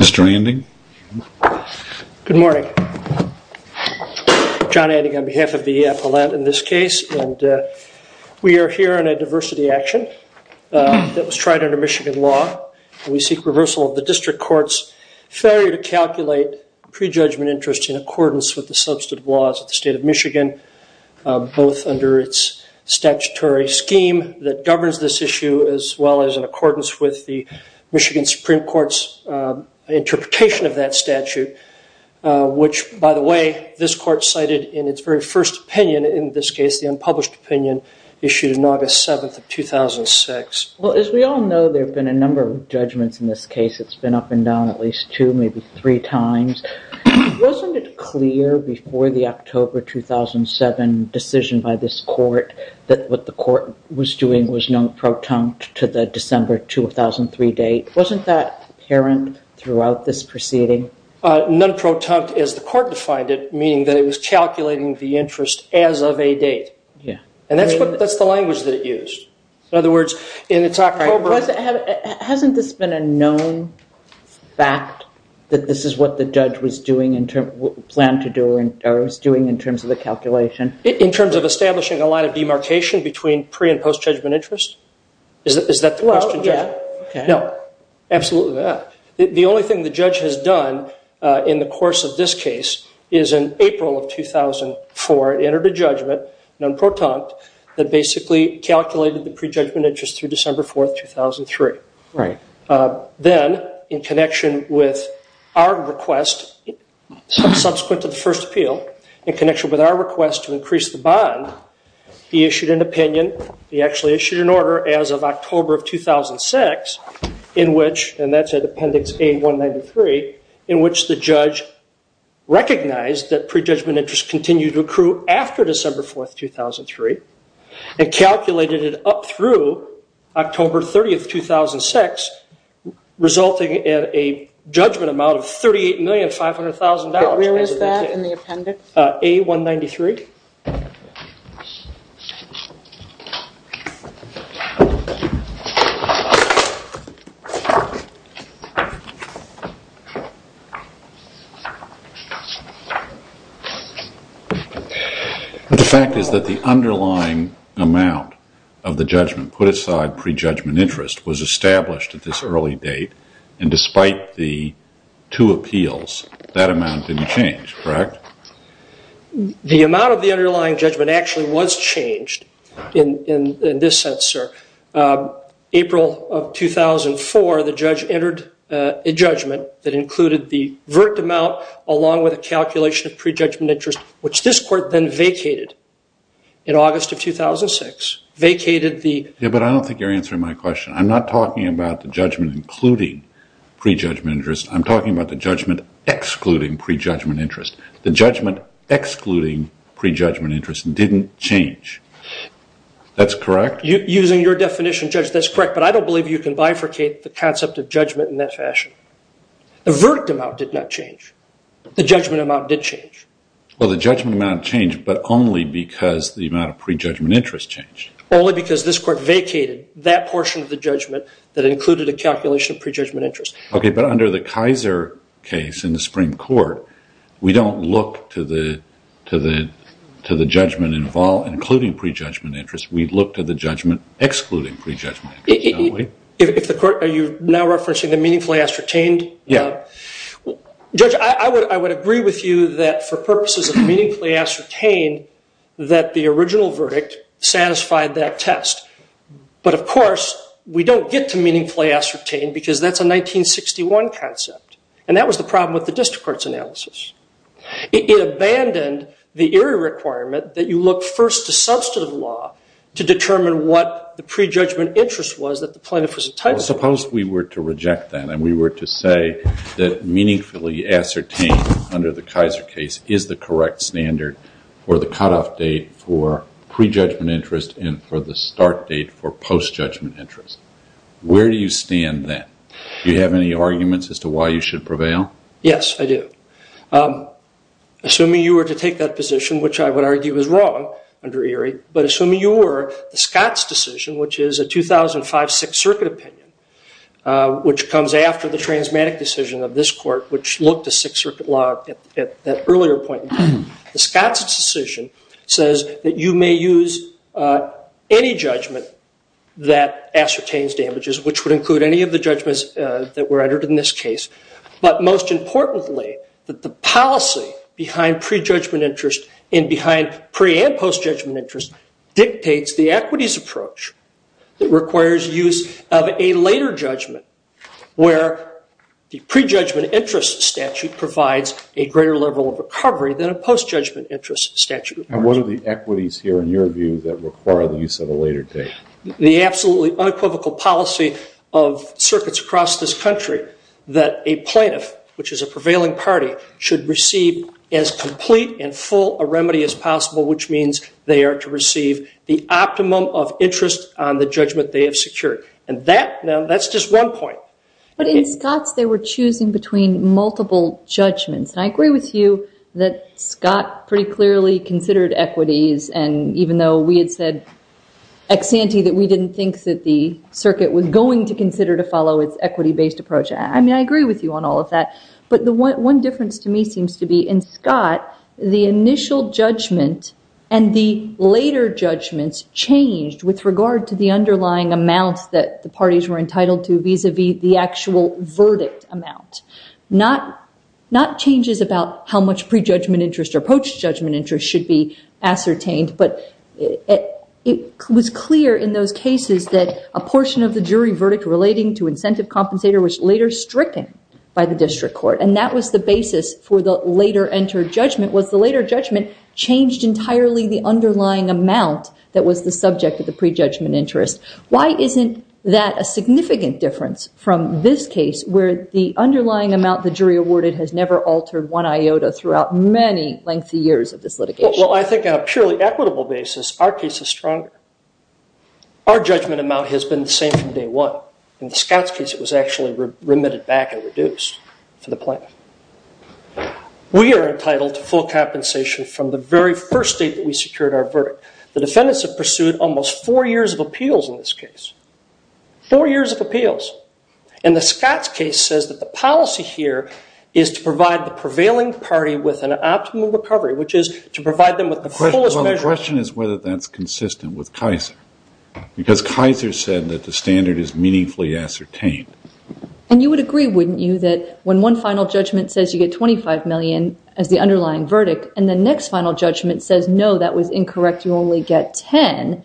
Mr. Anding. Good morning. John Anding on behalf of the appellant in this case. We are here in a diversity action that was tried under Michigan law. We seek reversal of the district court's failure to calculate prejudgment interest in accordance with the substantive laws of the state of Michigan, both under its statutory scheme that governs this issue as well as in accordance with the Michigan Supreme Court's interpretation of that statute, which by the way this court cited in its very first opinion in this case the unpublished opinion issued in August 7th of 2006. Well as we all know there have been a number of judgments in this case. It's been up and down at least two, maybe three times. Wasn't it clear before the October 2007 decision by this court that what the court was doing was non-protonct to the December 2003 date? Wasn't that apparent throughout this proceeding? Non-protonct as the court defined it, meaning that it was calculating the interest as of a date. Yeah. And that's what, that's the language that it used. In other words, in its October... Hasn't this been a known fact that this is what the judge was doing in terms, planned to do, or was doing in terms of the calculation? In terms of establishing a line of demarcation between pre and post judgment interest? Is that the question? Well, yeah. No, absolutely not. The only thing the judge has done in the course of this case is in April of 2004, entered a judgment, non-protonct, that basically calculated the pre-judgment interest through December 4th, 2003. Right. Then, in connection with our request, subsequent to the first appeal, in connection with our request to increase the bond, he issued an opinion. He actually issued an order as of October of 2006 in which, and that's at Appendix A193, in which the judge recognized that pre-judgment interest continued to accrue after December 4th, 2003, and calculated it up through October 30th, 2006, resulting in a judgment amount of $38,500,000. Where is that in the appendix? A193. The fact is that the underlying amount of the judgment put aside pre-judgment interest was established at this early date, and despite the two appeals, that amount didn't change, correct? The amount of the underlying judgment actually was changed in this sense, sir. April of 2004, the judge entered a judgment that included the vert amount along with a calculation of pre-judgment interest, which this court then vacated in August of 2006, vacated the- Yeah, but I don't think you're answering my question. I'm not talking about the judgment including pre-judgment interest. I'm talking about the judgment excluding pre-judgment interest. The judgment excluding pre-judgment interest didn't change. That's correct? Using your definition, Judge, that's correct, but I don't believe you can bifurcate the concept of judgment in that fashion. The verdict amount did not change. The judgment amount did change. Well, the judgment amount changed, but only because the amount of pre-judgment interest changed. Only because this portion of the judgment that included a calculation of pre-judgment interest. Okay, but under the Kaiser case in the Supreme Court, we don't look to the judgment including pre-judgment interest. We look to the judgment excluding pre-judgment interest, don't we? If the court- Are you now referencing the meaningfully ascertained? Yeah. Judge, I would agree with you that for purposes of meaningfully ascertained, that the original verdict satisfied that test. But of course, we don't get to meaningfully ascertained because that's a 1961 concept. And that was the problem with the district court's analysis. It abandoned the area requirement that you look first to substantive law to determine what the pre-judgment interest was that the plaintiff was entitled to. Suppose we were to reject that and we were to say that meaningfully ascertained under the Kaiser case is the correct standard for the cutoff date for pre-judgment interest and for the start date for post-judgment interest. Where do you stand then? Do you have any arguments as to why you should prevail? Yes, I do. Assuming you were to take that position, which I would argue was wrong under Erie, but assuming you were, Scott's decision, which is a 2005 Sixth Circuit opinion, which comes after the transmatic decision of this court, which looked at Sixth Circuit law at that earlier point. The Scott's decision says that you may use any judgment that ascertains damages, which would include any of the judgments that were entered in this case. But most importantly, that the policy behind pre-judgment interest and behind pre- and post-judgment interest dictates the equities approach that requires use of a later judgment, where the pre-judgment interest statute provides a greater level of recovery than a post-judgment interest statute. And what are the equities here in your view that require the use of a later date? The absolutely unequivocal policy of circuits across this country that a plaintiff, which is a prevailing party, should receive as complete and a remedy as possible, which means they are to receive the optimum of interest on the judgment they have secured. And that, now that's just one point. But in Scott's, they were choosing between multiple judgments. And I agree with you that Scott pretty clearly considered equities. And even though we had said ex-ante that we didn't think that the circuit was going to consider to follow its equity-based approach. I mean, I agree with you on all of that. But the one difference to me seems to be in Scott, the initial judgment and the later judgments changed with regard to the underlying amounts that the parties were entitled to vis-a-vis the actual verdict amount. Not changes about how much pre-judgment interest or post-judgment interest should be ascertained. But it was clear in those cases that a portion of the jury verdict relating to incentive compensator was later stricken by the district court. And that was the basis for the later entered judgment, was the later judgment changed entirely the underlying amount that was the subject of the pre-judgment interest. Why isn't that a significant difference from this case, where the underlying amount the jury awarded has never altered one iota throughout many lengthy years of this litigation? Well, I think on a purely equitable basis, our case is stronger. Our judgment amount has been the same from day one. In the Scott's case, it was actually remitted back and reduced for the plaintiff. We are entitled to full compensation from the very first date that we secured our verdict. The defendants have pursued almost four years of appeals in this case. Four years of appeals. And the Scott's case says that the policy here is to provide the prevailing party with an optimum recovery, which is to provide them with the fullest measure. Well, the question is whether that's consistent with Kaiser. Because Kaiser said that the standard is meaningfully ascertained. And you would agree, wouldn't you, that when one final judgment says you get 25 million as the underlying verdict, and the next final judgment says, no, that was incorrect, you only get 10,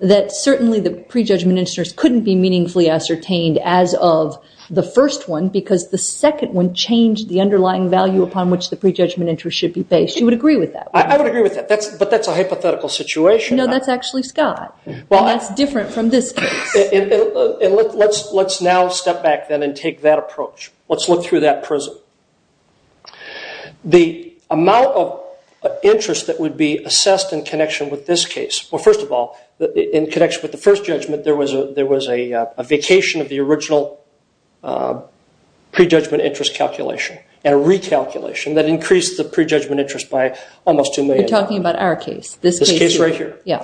that certainly the pre-judgment interest couldn't be meaningfully ascertained as of the first one, because the second one changed the underlying value upon which the pre-judgment interest should be based. You would agree with that? I would agree with that. But that's a hypothetical situation. No, that's actually Scott. And that's different from this case. And let's now step back then and take that approach. Let's look through that prism. The amount of interest that would be assessed in connection with this case, well, first of all, in connection with the first judgment, there was a vacation of the original pre-judgment interest calculation and a recalculation that increased the pre-judgment interest by almost 2 million. You're talking about our case. This case right here. Yeah.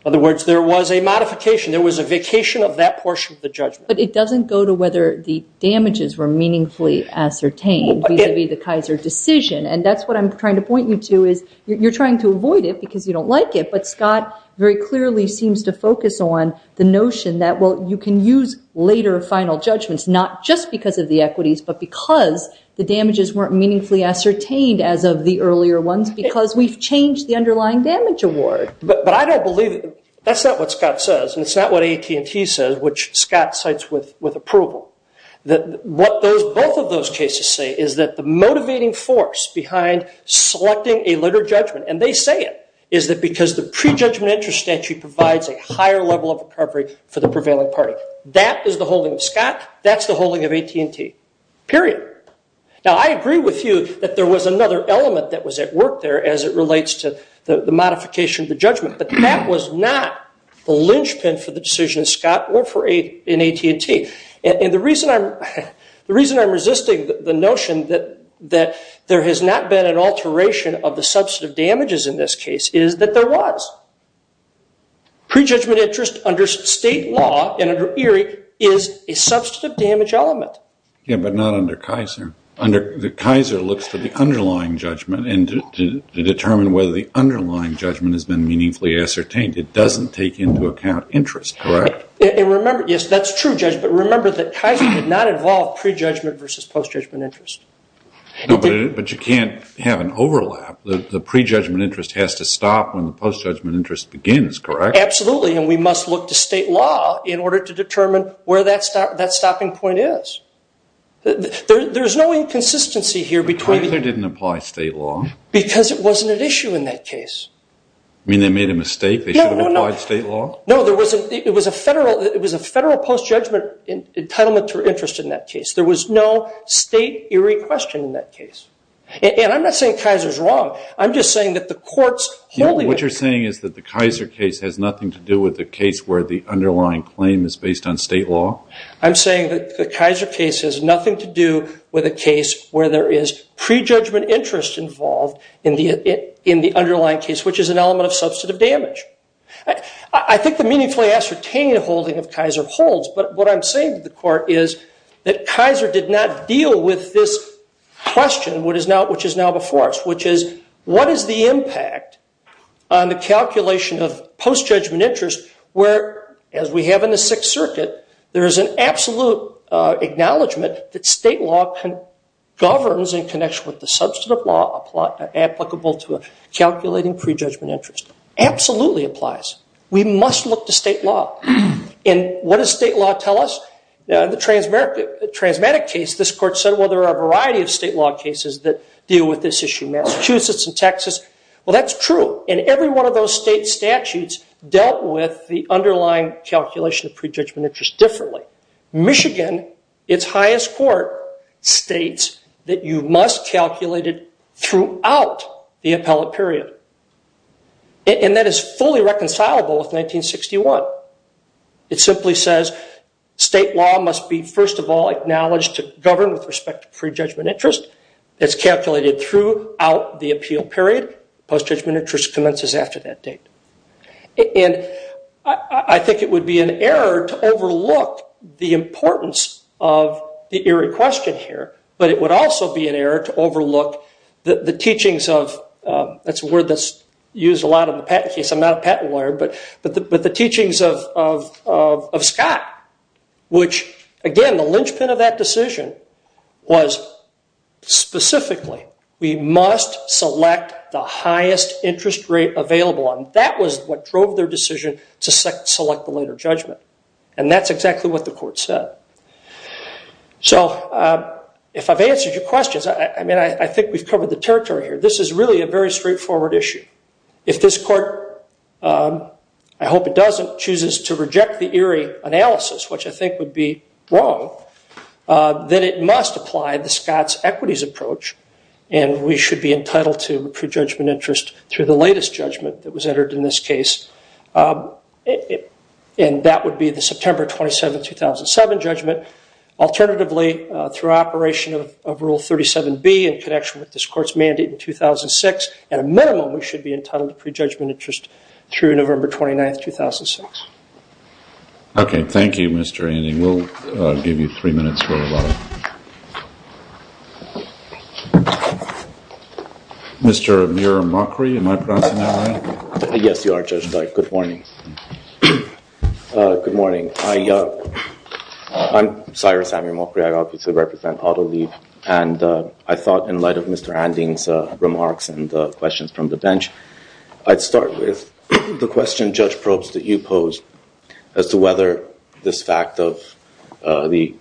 In other words, there was a modification. There was a vacation of that portion of the judgment. But it doesn't go to whether the damages were meaningfully ascertained vis-a-vis the Kaiser decision. And that's what I'm trying to point you to is you're trying to avoid it because you don't like it. But Scott very clearly seems to focus on the notion that, well, you can use later final judgments not just because of the equities, but because the damages weren't meaningfully ascertained as of the earlier ones because we've changed the underlying damage award. But I don't believe that. That's not what Scott says. And it's not what AT&T says, which Scott cites with approval. What both of those cases say is that the motivating force behind selecting a later judgment, and they say it, is that because the pre-judgment interest statute provides a higher level of recovery for the prevailing party. That is the holding of Scott. That's the holding of AT&T, period. Now, I agree with you that there was another element that was at work there as it relates to the modification of the judgment. But that was not the linchpin for the decision of Scott or for AT&T. And the reason I'm resisting the notion that there has not been an alteration of the substantive damages in this case is that there was. Pre-judgment interest under state law and under ERIE is a substantive damage element. Yeah, but not under Kaiser. Kaiser looks to the underlying judgment and to determine whether the underlying judgment has been meaningfully ascertained. It doesn't take into account interest, correct? Yes, that's true, Judge. But remember that Kaiser did not involve pre-judgment versus post-judgment interest. But you can't have an overlap. The pre-judgment interest has to stop when the post-judgment interest begins, correct? Absolutely. And we must look to state law in order to determine where that stopping point is. There's no inconsistency here between... Kaiser didn't apply state law. Because it wasn't an issue in that case. You mean they made a mistake? They should have applied state law? No, it was a federal post-judgment entitlement to interest in that case. There was no state ERIE question in that case. And I'm not saying Kaiser's wrong. I'm just saying that the court's saying is that the Kaiser case has nothing to do with the case where the underlying claim is based on state law? I'm saying that the Kaiser case has nothing to do with a case where there is pre-judgment interest involved in the underlying case, which is an element of substantive damage. I think the meaningfully ascertained holding of Kaiser holds. But what I'm saying to the court is that Kaiser did not deal with this question, which is now before us, which is what is the impact on the calculation of post-judgment interest where, as we have in the Sixth Circuit, there is an absolute acknowledgment that state law governs in connection with the substantive law applicable to calculating pre-judgment interest. Absolutely applies. We must look to state law. And what does state law tell us? The transmatic case, this court said, well, there are a variety of state law cases that deal with this issue. Massachusetts and Texas. Well, that's true. And every one of those state statutes dealt with the underlying calculation of pre-judgment interest differently. Michigan, its highest court, states that you must calculate it throughout the appellate period. And that is fully reconcilable with 1961. It simply says state law must be, first of all, acknowledged to govern with respect to pre-judgment interest. It's calculated throughout the appeal period. Post-judgment interest commences after that date. And I think it would be an error to overlook the importance of the eerie question here, but it would also be an error to overlook the teachings of, that's a word that's used a lot in the patent case, I'm not a patent lawyer, but the teachings of Scott, which, again, the linchpin of that decision was specifically, we must select the highest interest rate available. And that was what drove their decision to select the later judgment. And that's exactly what the court said. So if I've answered your questions, I mean, I think we've covered the territory here. This is really a very straightforward issue. If this court, I hope it doesn't, chooses to reject the eerie analysis, which I think would be wrong, then it must apply the Scott's equities approach and we should be entitled to pre-judgment interest through the latest judgment that was entered in this case. And that would be the September 27, 2007 judgment. Alternatively, through operation of Rule 37B in connection with this court's mandate in 2006, at a minimum, we should be entitled to pre-judgment interest through November 29, 2006. OK. Thank you, Mr. Anding. We'll give you three minutes for rebuttal. Mr. Amir Mokri, am I pronouncing that right? Yes, you are, Judge Dike. Good morning. Good morning. I'm Cyrus Amir Mokri. I obviously represent AutoLeave. And I thought in light of Mr. Anding's remarks and the questions from the bench, I'd start with the question, Judge Probst, that you posed as to whether this fact of the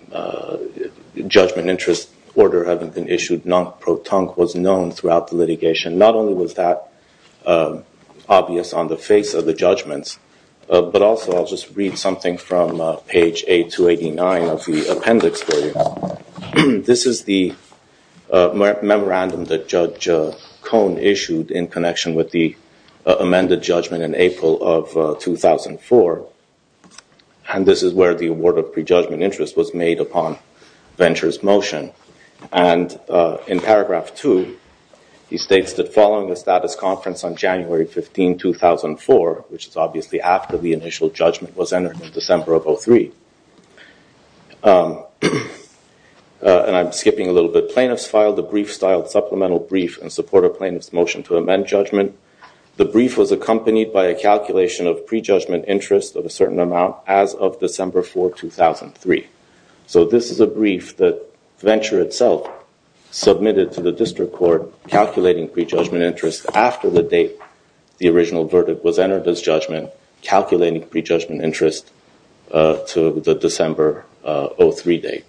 judgment interest order having been issued non pro tonque was known throughout the litigation. Not only was that obvious on the face of the judgments, but also I'll just read something from page 289 of the appendix for you. This is the memorandum that Judge Cohn issued in connection with the amended judgment in April of 2004. And this is where the award of pre-judgment interest was made upon Venture's motion. And in paragraph 2, he states that following the status conference on January 15, 2004, which is obviously after the initial judgment was entered in December of 2003. And I'm skipping a little bit. Plaintiffs filed a brief-styled supplemental brief in support of plaintiffs' motion to amend judgment. The brief was accompanied by a calculation of pre-judgment interest of a certain amount as of December 4, 2003. So this is a brief that Venture itself submitted to the district court calculating pre-judgment interest after the date the original verdict was entered as judgment, calculating pre-judgment interest to the December 03 date.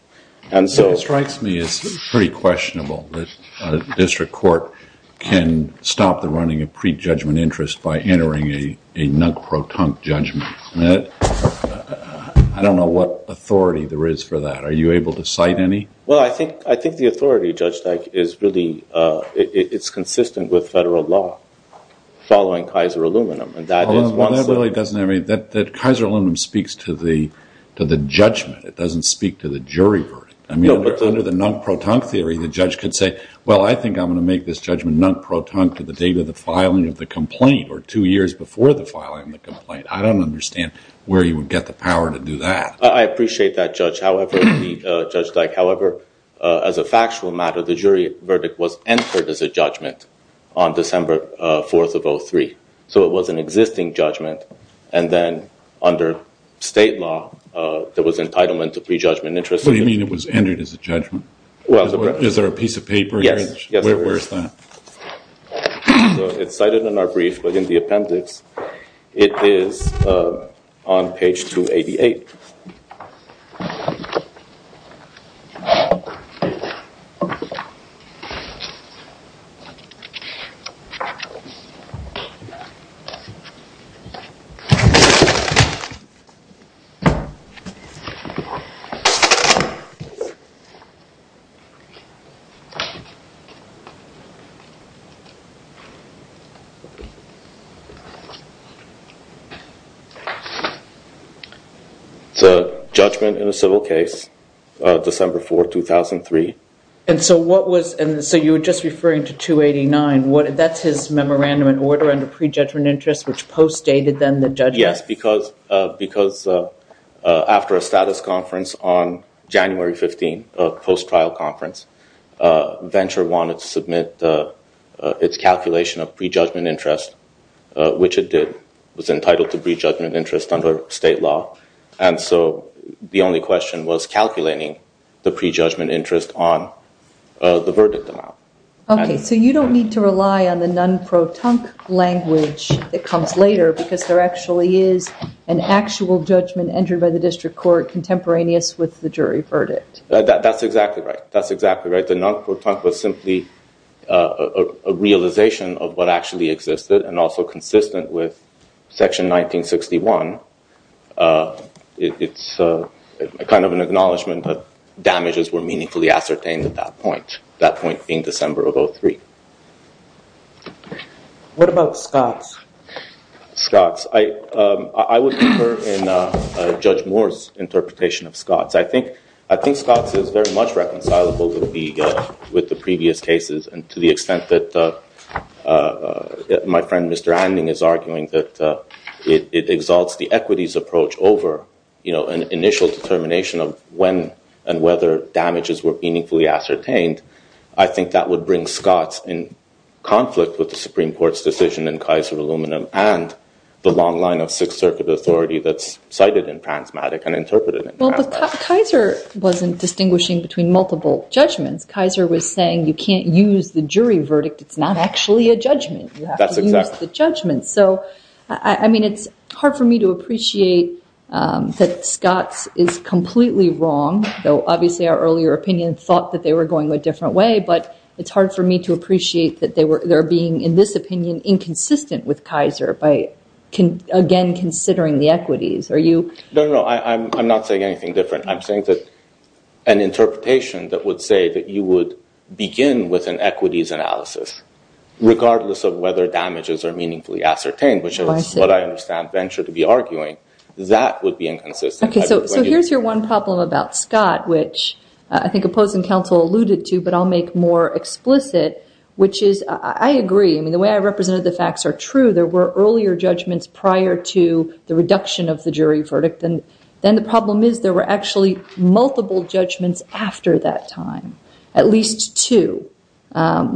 And so- It strikes me as pretty questionable that you can stop the running of pre-judgment interest by entering a non-proton judgment. I don't know what authority there is for that. Are you able to cite any? Well, I think the authority, Judge Teich, is really, it's consistent with federal law following Kaiser Aluminum. And that is- Well, that really doesn't- I mean, that Kaiser Aluminum speaks to the judgment. It doesn't speak to the jury verdict. I mean, under the non-proton theory, the judge could say, well, I think I'm going to make this judgment non-proton to the date of the filing of the complaint or two years before the filing of the complaint. I don't understand where you would get the power to do that. I appreciate that, Judge. However, Judge Teich, however, as a factual matter, the jury verdict was entered as a judgment on December 4 of 03. So it was an existing judgment. And then under state law, there was entitlement to pre-judgment interest. What do you mean it was entered as a judgment? Is there a piece of paper? Yes. Where is that? So it's cited in our brief, but in the appendix, it is on page 288. It's a judgment in a civil case, December 4, 2003. And so what was- So you were just referring to 289. That's his memorandum in order under pre-judgment interest, which post-dated then the judgment? Yes, because after a status conference on January 15, a post-trial conference, Venture wanted to submit its calculation of pre-judgment interest, which it did. It was entitled to pre-judgment interest under state law. And so the only question was calculating the pre-judgment interest on the verdict amount. Okay. So you don't need to rely on the non-pro tunk language that comes later because there actually is an actual judgment entered by the district court contemporaneous with the jury verdict. That's exactly right. That's exactly right. The non-pro tunk was simply a realization of what actually existed and also consistent with section 1961. It's a kind of an acknowledgement that damages were meaningfully ascertained at that point, that point being December of 03. What about Scotts? Scotts. I would prefer in Judge Moore's interpretation of Scotts. I think Scotts is very much reconcilable with the previous cases and to the extent that my friend, Mr. Anding, is arguing that it exalts the equities approach over an initial determination of when and whether damages were meaningfully ascertained. I think that would bring Scotts in conflict with the and the long line of Sixth Circuit authority that's cited in Pransmatic and interpreted in Pransmatic. Well, Kaiser wasn't distinguishing between multiple judgments. Kaiser was saying you can't use the jury verdict. It's not actually a judgment. You have to use the judgment. So I mean, it's hard for me to appreciate that Scotts is completely wrong, though obviously our earlier opinion thought that they were going a different way. But it's hard for me to appreciate that they were being, in this opinion, inconsistent with Kaiser by again considering the equities. Are you? No, no, no. I'm not saying anything different. I'm saying that an interpretation that would say that you would begin with an equities analysis regardless of whether damages are meaningfully ascertained, which is what I understand Venture to be arguing, that would be inconsistent. So here's your one problem about Scotts, which I think opposing counsel alluded to, but I'll make more explicit, which is I agree. I mean, the way I represented the facts are true. There were earlier judgments prior to the reduction of the jury verdict. And then the problem is there were actually multiple judgments after that time, at least two. After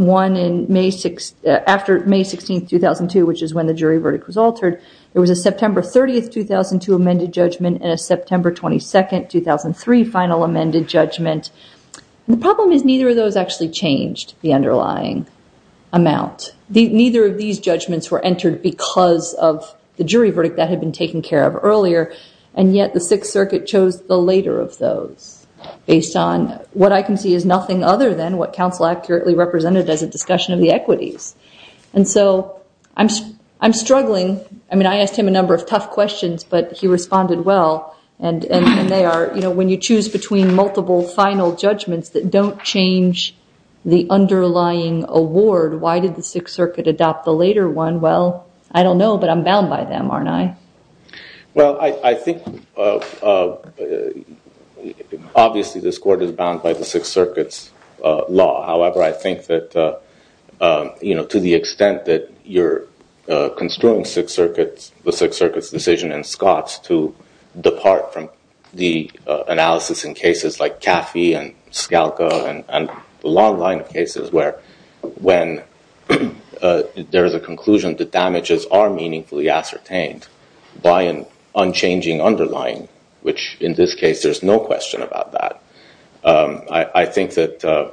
May 16, 2002, which is when the jury verdict was altered, there was a September 30, 2002 amended judgment and a September 22, 2003 final amended judgment. The problem is neither of those actually changed the underlying amount. Neither of these judgments were entered because of the jury verdict that had been taken care of earlier. And yet the Sixth Circuit chose the later of those based on what I can see is nothing other than what counsel accurately represented as a discussion of the equities. And so I'm struggling. I mean, I asked him a number of tough questions, but he responded well. And they are, when you choose between multiple final judgments that don't change the underlying award, why did the Sixth Circuit adopt the later one? Well, I don't know, but I'm bound by them, aren't I? Well, I think obviously this court is bound by the Sixth Circuit's law. However, I think that to the extent that you're construing the Sixth Circuit's decision in Scotts to depart from the analysis in cases like Caffey and Scalco and the long line of cases where when there is a conclusion that damages are meaningfully ascertained by an unchanging underlying, which in this case, there's no question about that. I think that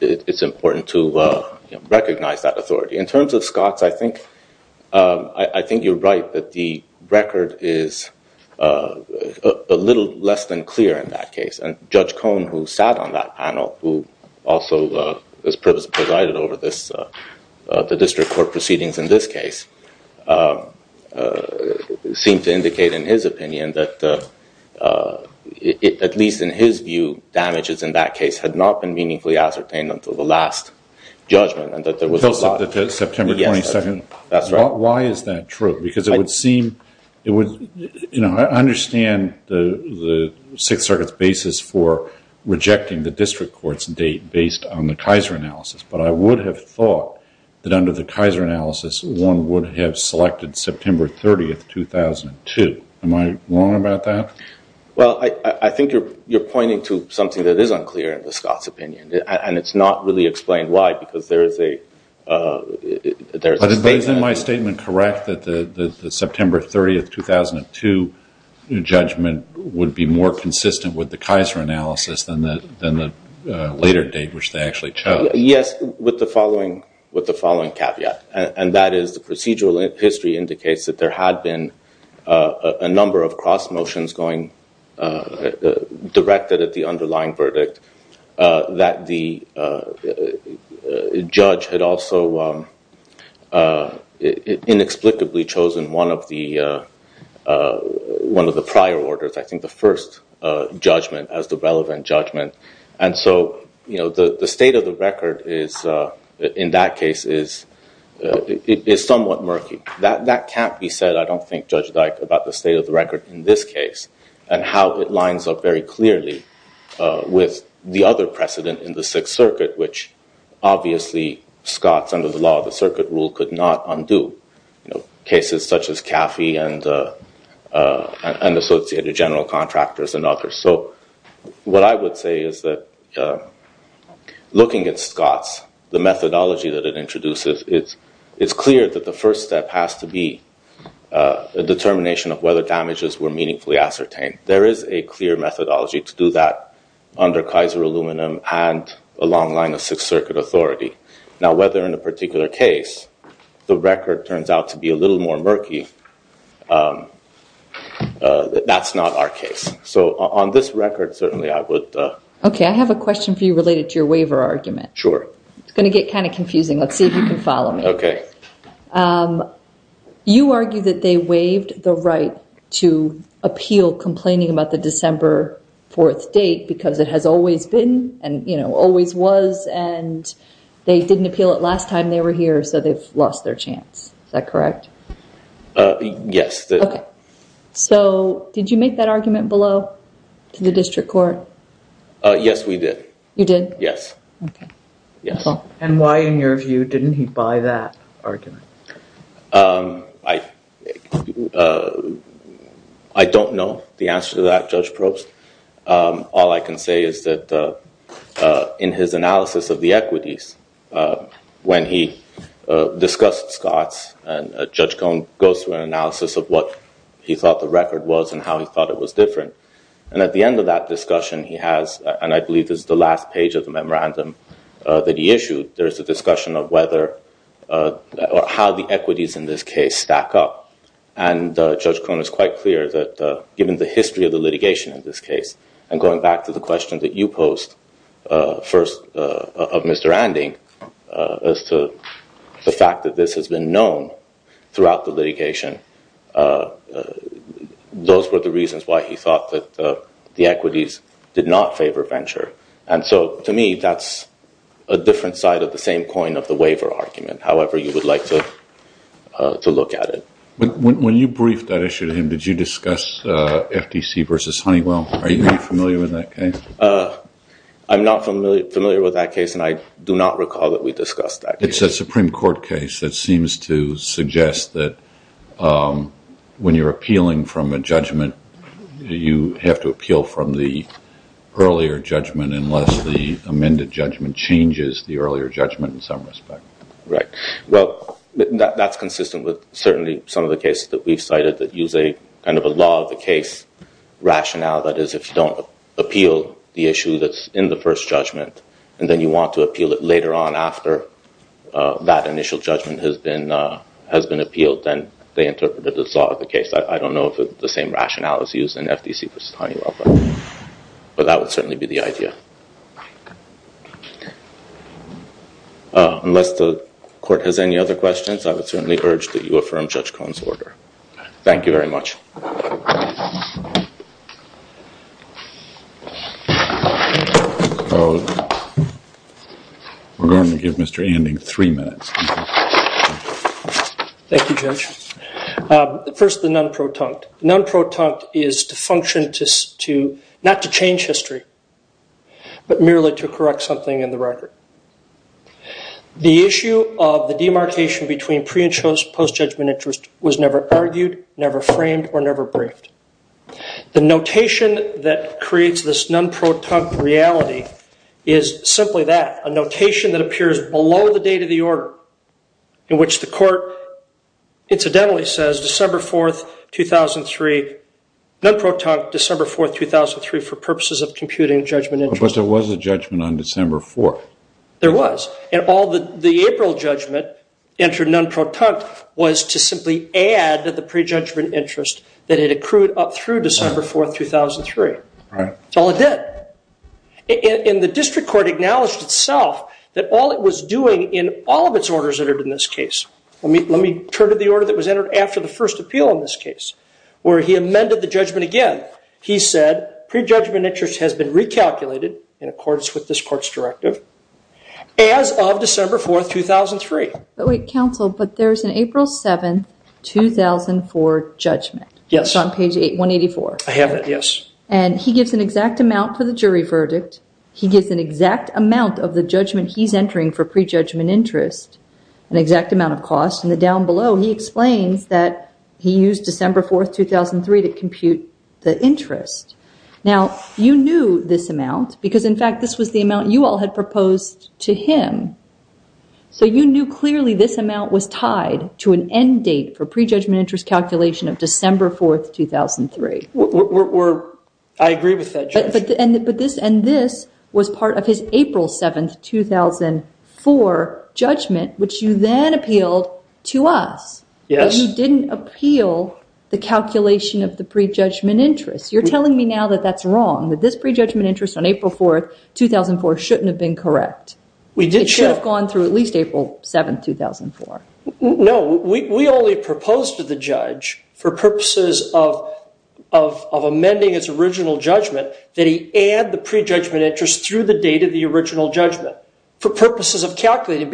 it's important to recognize that authority. In terms of Scotts, I think you're right that the record is a little less than clear in that case. And Judge Cohn, who sat on that panel, who also has presided over the district court proceedings in this case, seemed to indicate in his opinion that, at least in his view, damages in that case had not been meaningfully ascertained until the last judgment and that September 22nd. That's right. Why is that true? Because I understand the Sixth Circuit's basis for rejecting the district court's date based on the Kaiser analysis, but I would have thought that under the Kaiser analysis, one would have selected September 30th, 2002. Am I wrong about that? Well, I think you're pointing to something that is unclear in the Scotts' opinion, and it's not really explained why, because there is a statement. But isn't my statement correct that the September 30th, 2002 judgment would be more consistent with the Kaiser analysis than the later date, which they actually chose? Yes, with the following caveat. And that is, the procedural history indicates that there had been a number of cross motions going on, directed at the underlying verdict, that the judge had also inexplicably chosen one of the prior orders, I think the first judgment, as the relevant judgment. And so the state of the record in that case is somewhat murky. That can't be said, I don't think, Judge Dyke, about the state of the record in this case, and how it lines up very clearly with the other precedent in the Sixth Circuit, which obviously Scotts, under the law of the circuit rule, could not undo. Cases such as Caffey and associated general contractors and others. So what I would say is that looking at Scotts, the methodology that it introduces, it's clear that the first step has to be a determination of whether damages were meaningfully ascertained. There is a clear methodology to do that under Kaiser Aluminum and a long line of Sixth Circuit authority. Now, whether in a particular case, the record turns out to be a little more murky, that's not our case. So on this record, certainly I would... Okay, I have a question for you related to your waiver argument. Sure. It's going to get kind of confusing. Let's see if you can follow me. Okay. You argue that they waived the right to appeal complaining about the December 4th date because it has always been and always was, and they didn't appeal it last time they were here, so they've lost their chance. Is that correct? Yes. So did you make that argument below to the district court? Yes, we did. You did? Yes. Okay. Yes. And why, in your view, didn't he buy that argument? I don't know the answer to that, Judge Probst. All I can say is that in his analysis of the equities, when he discussed Scotts, and Judge Cohen goes through an analysis of what he thought the record was and how he thought it was different, and at the end of that discussion, he has, and I believe this is the last page of the memorandum that he issued, there's a discussion of whether or how the equities in this case stack up. And Judge Cohen is quite clear that given the history of the litigation in this case, and going back to the question that you posed first of Mr. Anding, as to the fact that this has been known throughout the litigation, those were the reasons why he thought that the equities did not favor venture. And so, to me, that's a different side of the same coin of the waiver argument, however you would like to look at it. When you briefed that issue to him, did you discuss FTC versus Honeywell? Are you familiar with that case? I'm not familiar with that case, and I do not recall that we discussed that case. It's a Supreme Court case that seems to suggest that when you're appealing from a judgment, you have to appeal from the earlier judgment unless the amended judgment changes the earlier judgment in some respect. Right. Well, that's consistent with certainly some of the cases that we've cited that use a kind of a law of the case rationale, that is, if you don't appeal the issue that's in the first judgment, and then you want to appeal it later on after that initial judgment has been appealed, then they interpreted the law of the case. I don't know if the same rationale is used in FTC versus Honeywell, but that would certainly be the idea. Unless the court has any other questions, I would certainly urge that you affirm Judge Cohen's order. Thank you very much. We're going to give Mr. Anding three minutes. Thank you, Judge. First, the non-protunct. Non-protunct is to function to not to change history, but merely to correct something in the record. The issue of the demarcation between pre and post-judgment interest was never argued, never framed, or never briefed. The notation that creates this non-protunct reality is simply that, a notation that appears below the date of the order, in which the court incidentally says December 4, 2003, non-protunct December 4, 2003 for purposes of computing judgment interest. But there was a judgment on December 4. There was. And all the April judgment entered non-protunct was to simply add the pre-judgment interest that it accrued up through December 4, 2003. That's all it did. And the district court acknowledged itself that all it was doing in all of its orders entered in this case, let me turn to the order that was entered after the first appeal in this case, where he amended the judgment again. He said, pre-judgment interest has been recalculated in accordance with this court's judgment. Yes. It's on page 184. I have it, yes. And he gives an exact amount for the jury verdict. He gives an exact amount of the judgment he's entering for pre-judgment interest, an exact amount of cost. And then down below, he explains that he used December 4, 2003, to compute the interest. Now, you knew this amount because, in fact, this was the amount you all had proposed to him. So you knew clearly this amount was tied to an end date for pre-judgment interest calculation of December 4, 2003. I agree with that, Judge. And this was part of his April 7, 2004 judgment, which you then appealed to us. Yes. But you didn't appeal the calculation of the pre-judgment interest. You're telling me now that that's wrong, that this pre-judgment interest on April 4, 2004 shouldn't have been correct. It should have gone through at least April 7, 2004. No. We only proposed to the judge, for purposes of amending its original judgment, that he add the pre-judgment interest through the date of the original judgment, for purposes of calculating.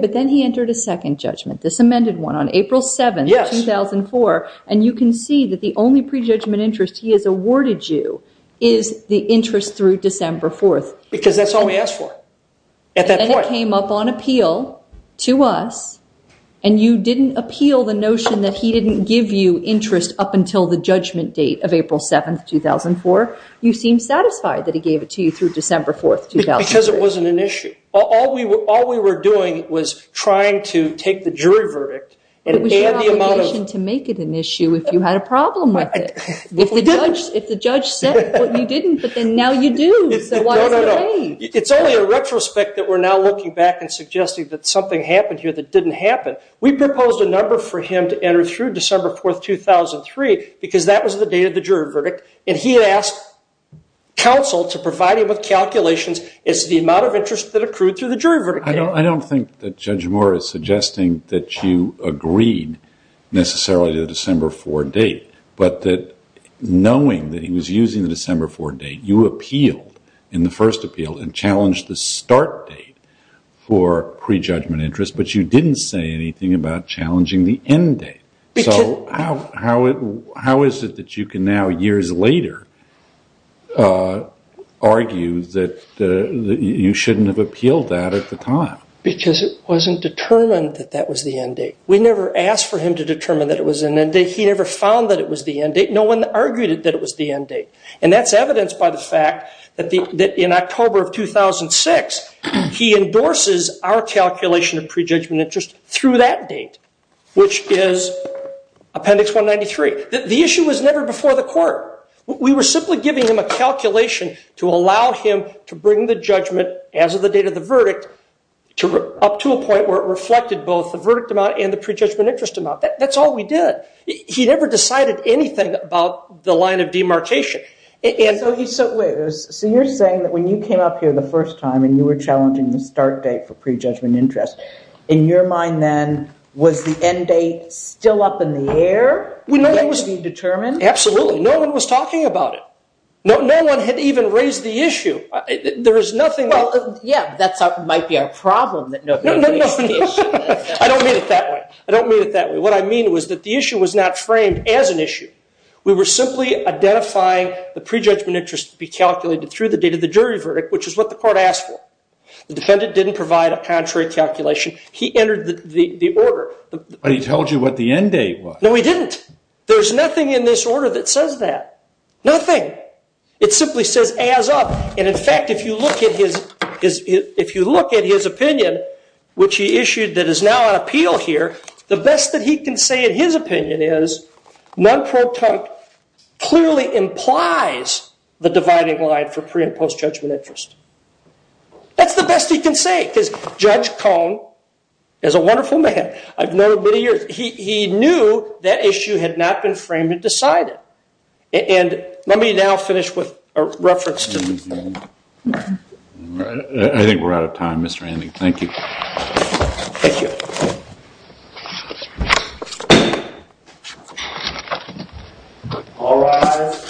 But then he entered a second judgment, this amended one, on April 7, 2004. And you can see that the only pre-judgment interest he has awarded you is the interest through December 4. Because that's all we asked for at that point. And it came up on appeal to us. And you didn't appeal the notion that he didn't give you interest up until the judgment date of April 7, 2004. You seem satisfied that he gave it to you through December 4, 2004. Because it wasn't an issue. All we were doing was trying to take the jury verdict and add the amount of- It was your obligation to make it an issue if you had a problem with it. If the judge said what you didn't, but then now you do. So why is it a way? No, no, no. It's only a retrospect that we're now looking back and suggesting that something happened here that didn't happen. We proposed a number for him to enter through December 4, 2003, because that was the date of the jury verdict. And he had asked counsel to provide him with calculations. It's the amount of interest that accrued through the jury verdict. I don't think that Judge Moore is suggesting that you agreed necessarily to the December 4 date. But that knowing that he was using the December 4 date, you appealed in the first appeal and challenged the start date for prejudgment interest. But you didn't say anything about challenging the end date. So how is it that you can now, years later, argue that you shouldn't have appealed that at the time? Because it wasn't determined that that was the end date. We never asked for him to determine that it was an end date. He never found that it was the end date. No one argued that it was the end date. And that's evidenced by the fact that in October of 2006, he endorses our calculation of prejudgment interest through that date, which is Appendix 193. The issue was never before the court. We were simply giving him a calculation to allow him to bring the judgment as of the date of the verdict up to a point where it reflected both the verdict amount and the prejudgment interest amount. That's all we did. He never decided anything about the line of demarcation. So you're saying that when you came up here the first time and you were challenging the start date for prejudgment interest, in your mind then, was the end date still up in the air? Absolutely. No one was talking about it. No one had even raised the issue. Yeah, that might be our problem. No, no, no. I don't mean it that way. I don't mean it that way. What I mean was that the issue was not framed as an issue. We were simply identifying the prejudgment interest to be calculated through the date of the jury verdict, which is what the court asked for. The defendant didn't provide a contrary calculation. He entered the order. But he told you what the end date was. No, he didn't. There's nothing in this order that says that. Nothing. It simply says as of. And in fact, if you look at his opinion, which he issued that is now on appeal here, the best that he can say in his opinion is, non-protempt clearly implies the dividing line for pre- and post-judgment interest. That's the best he can say. Because Judge Cohn is a wonderful man. I've known him many years. He knew that issue had not been framed and decided. And let me now finish with a reference to I think we're out of time, Mr. Andeg. Thank you. Thank you. All rise.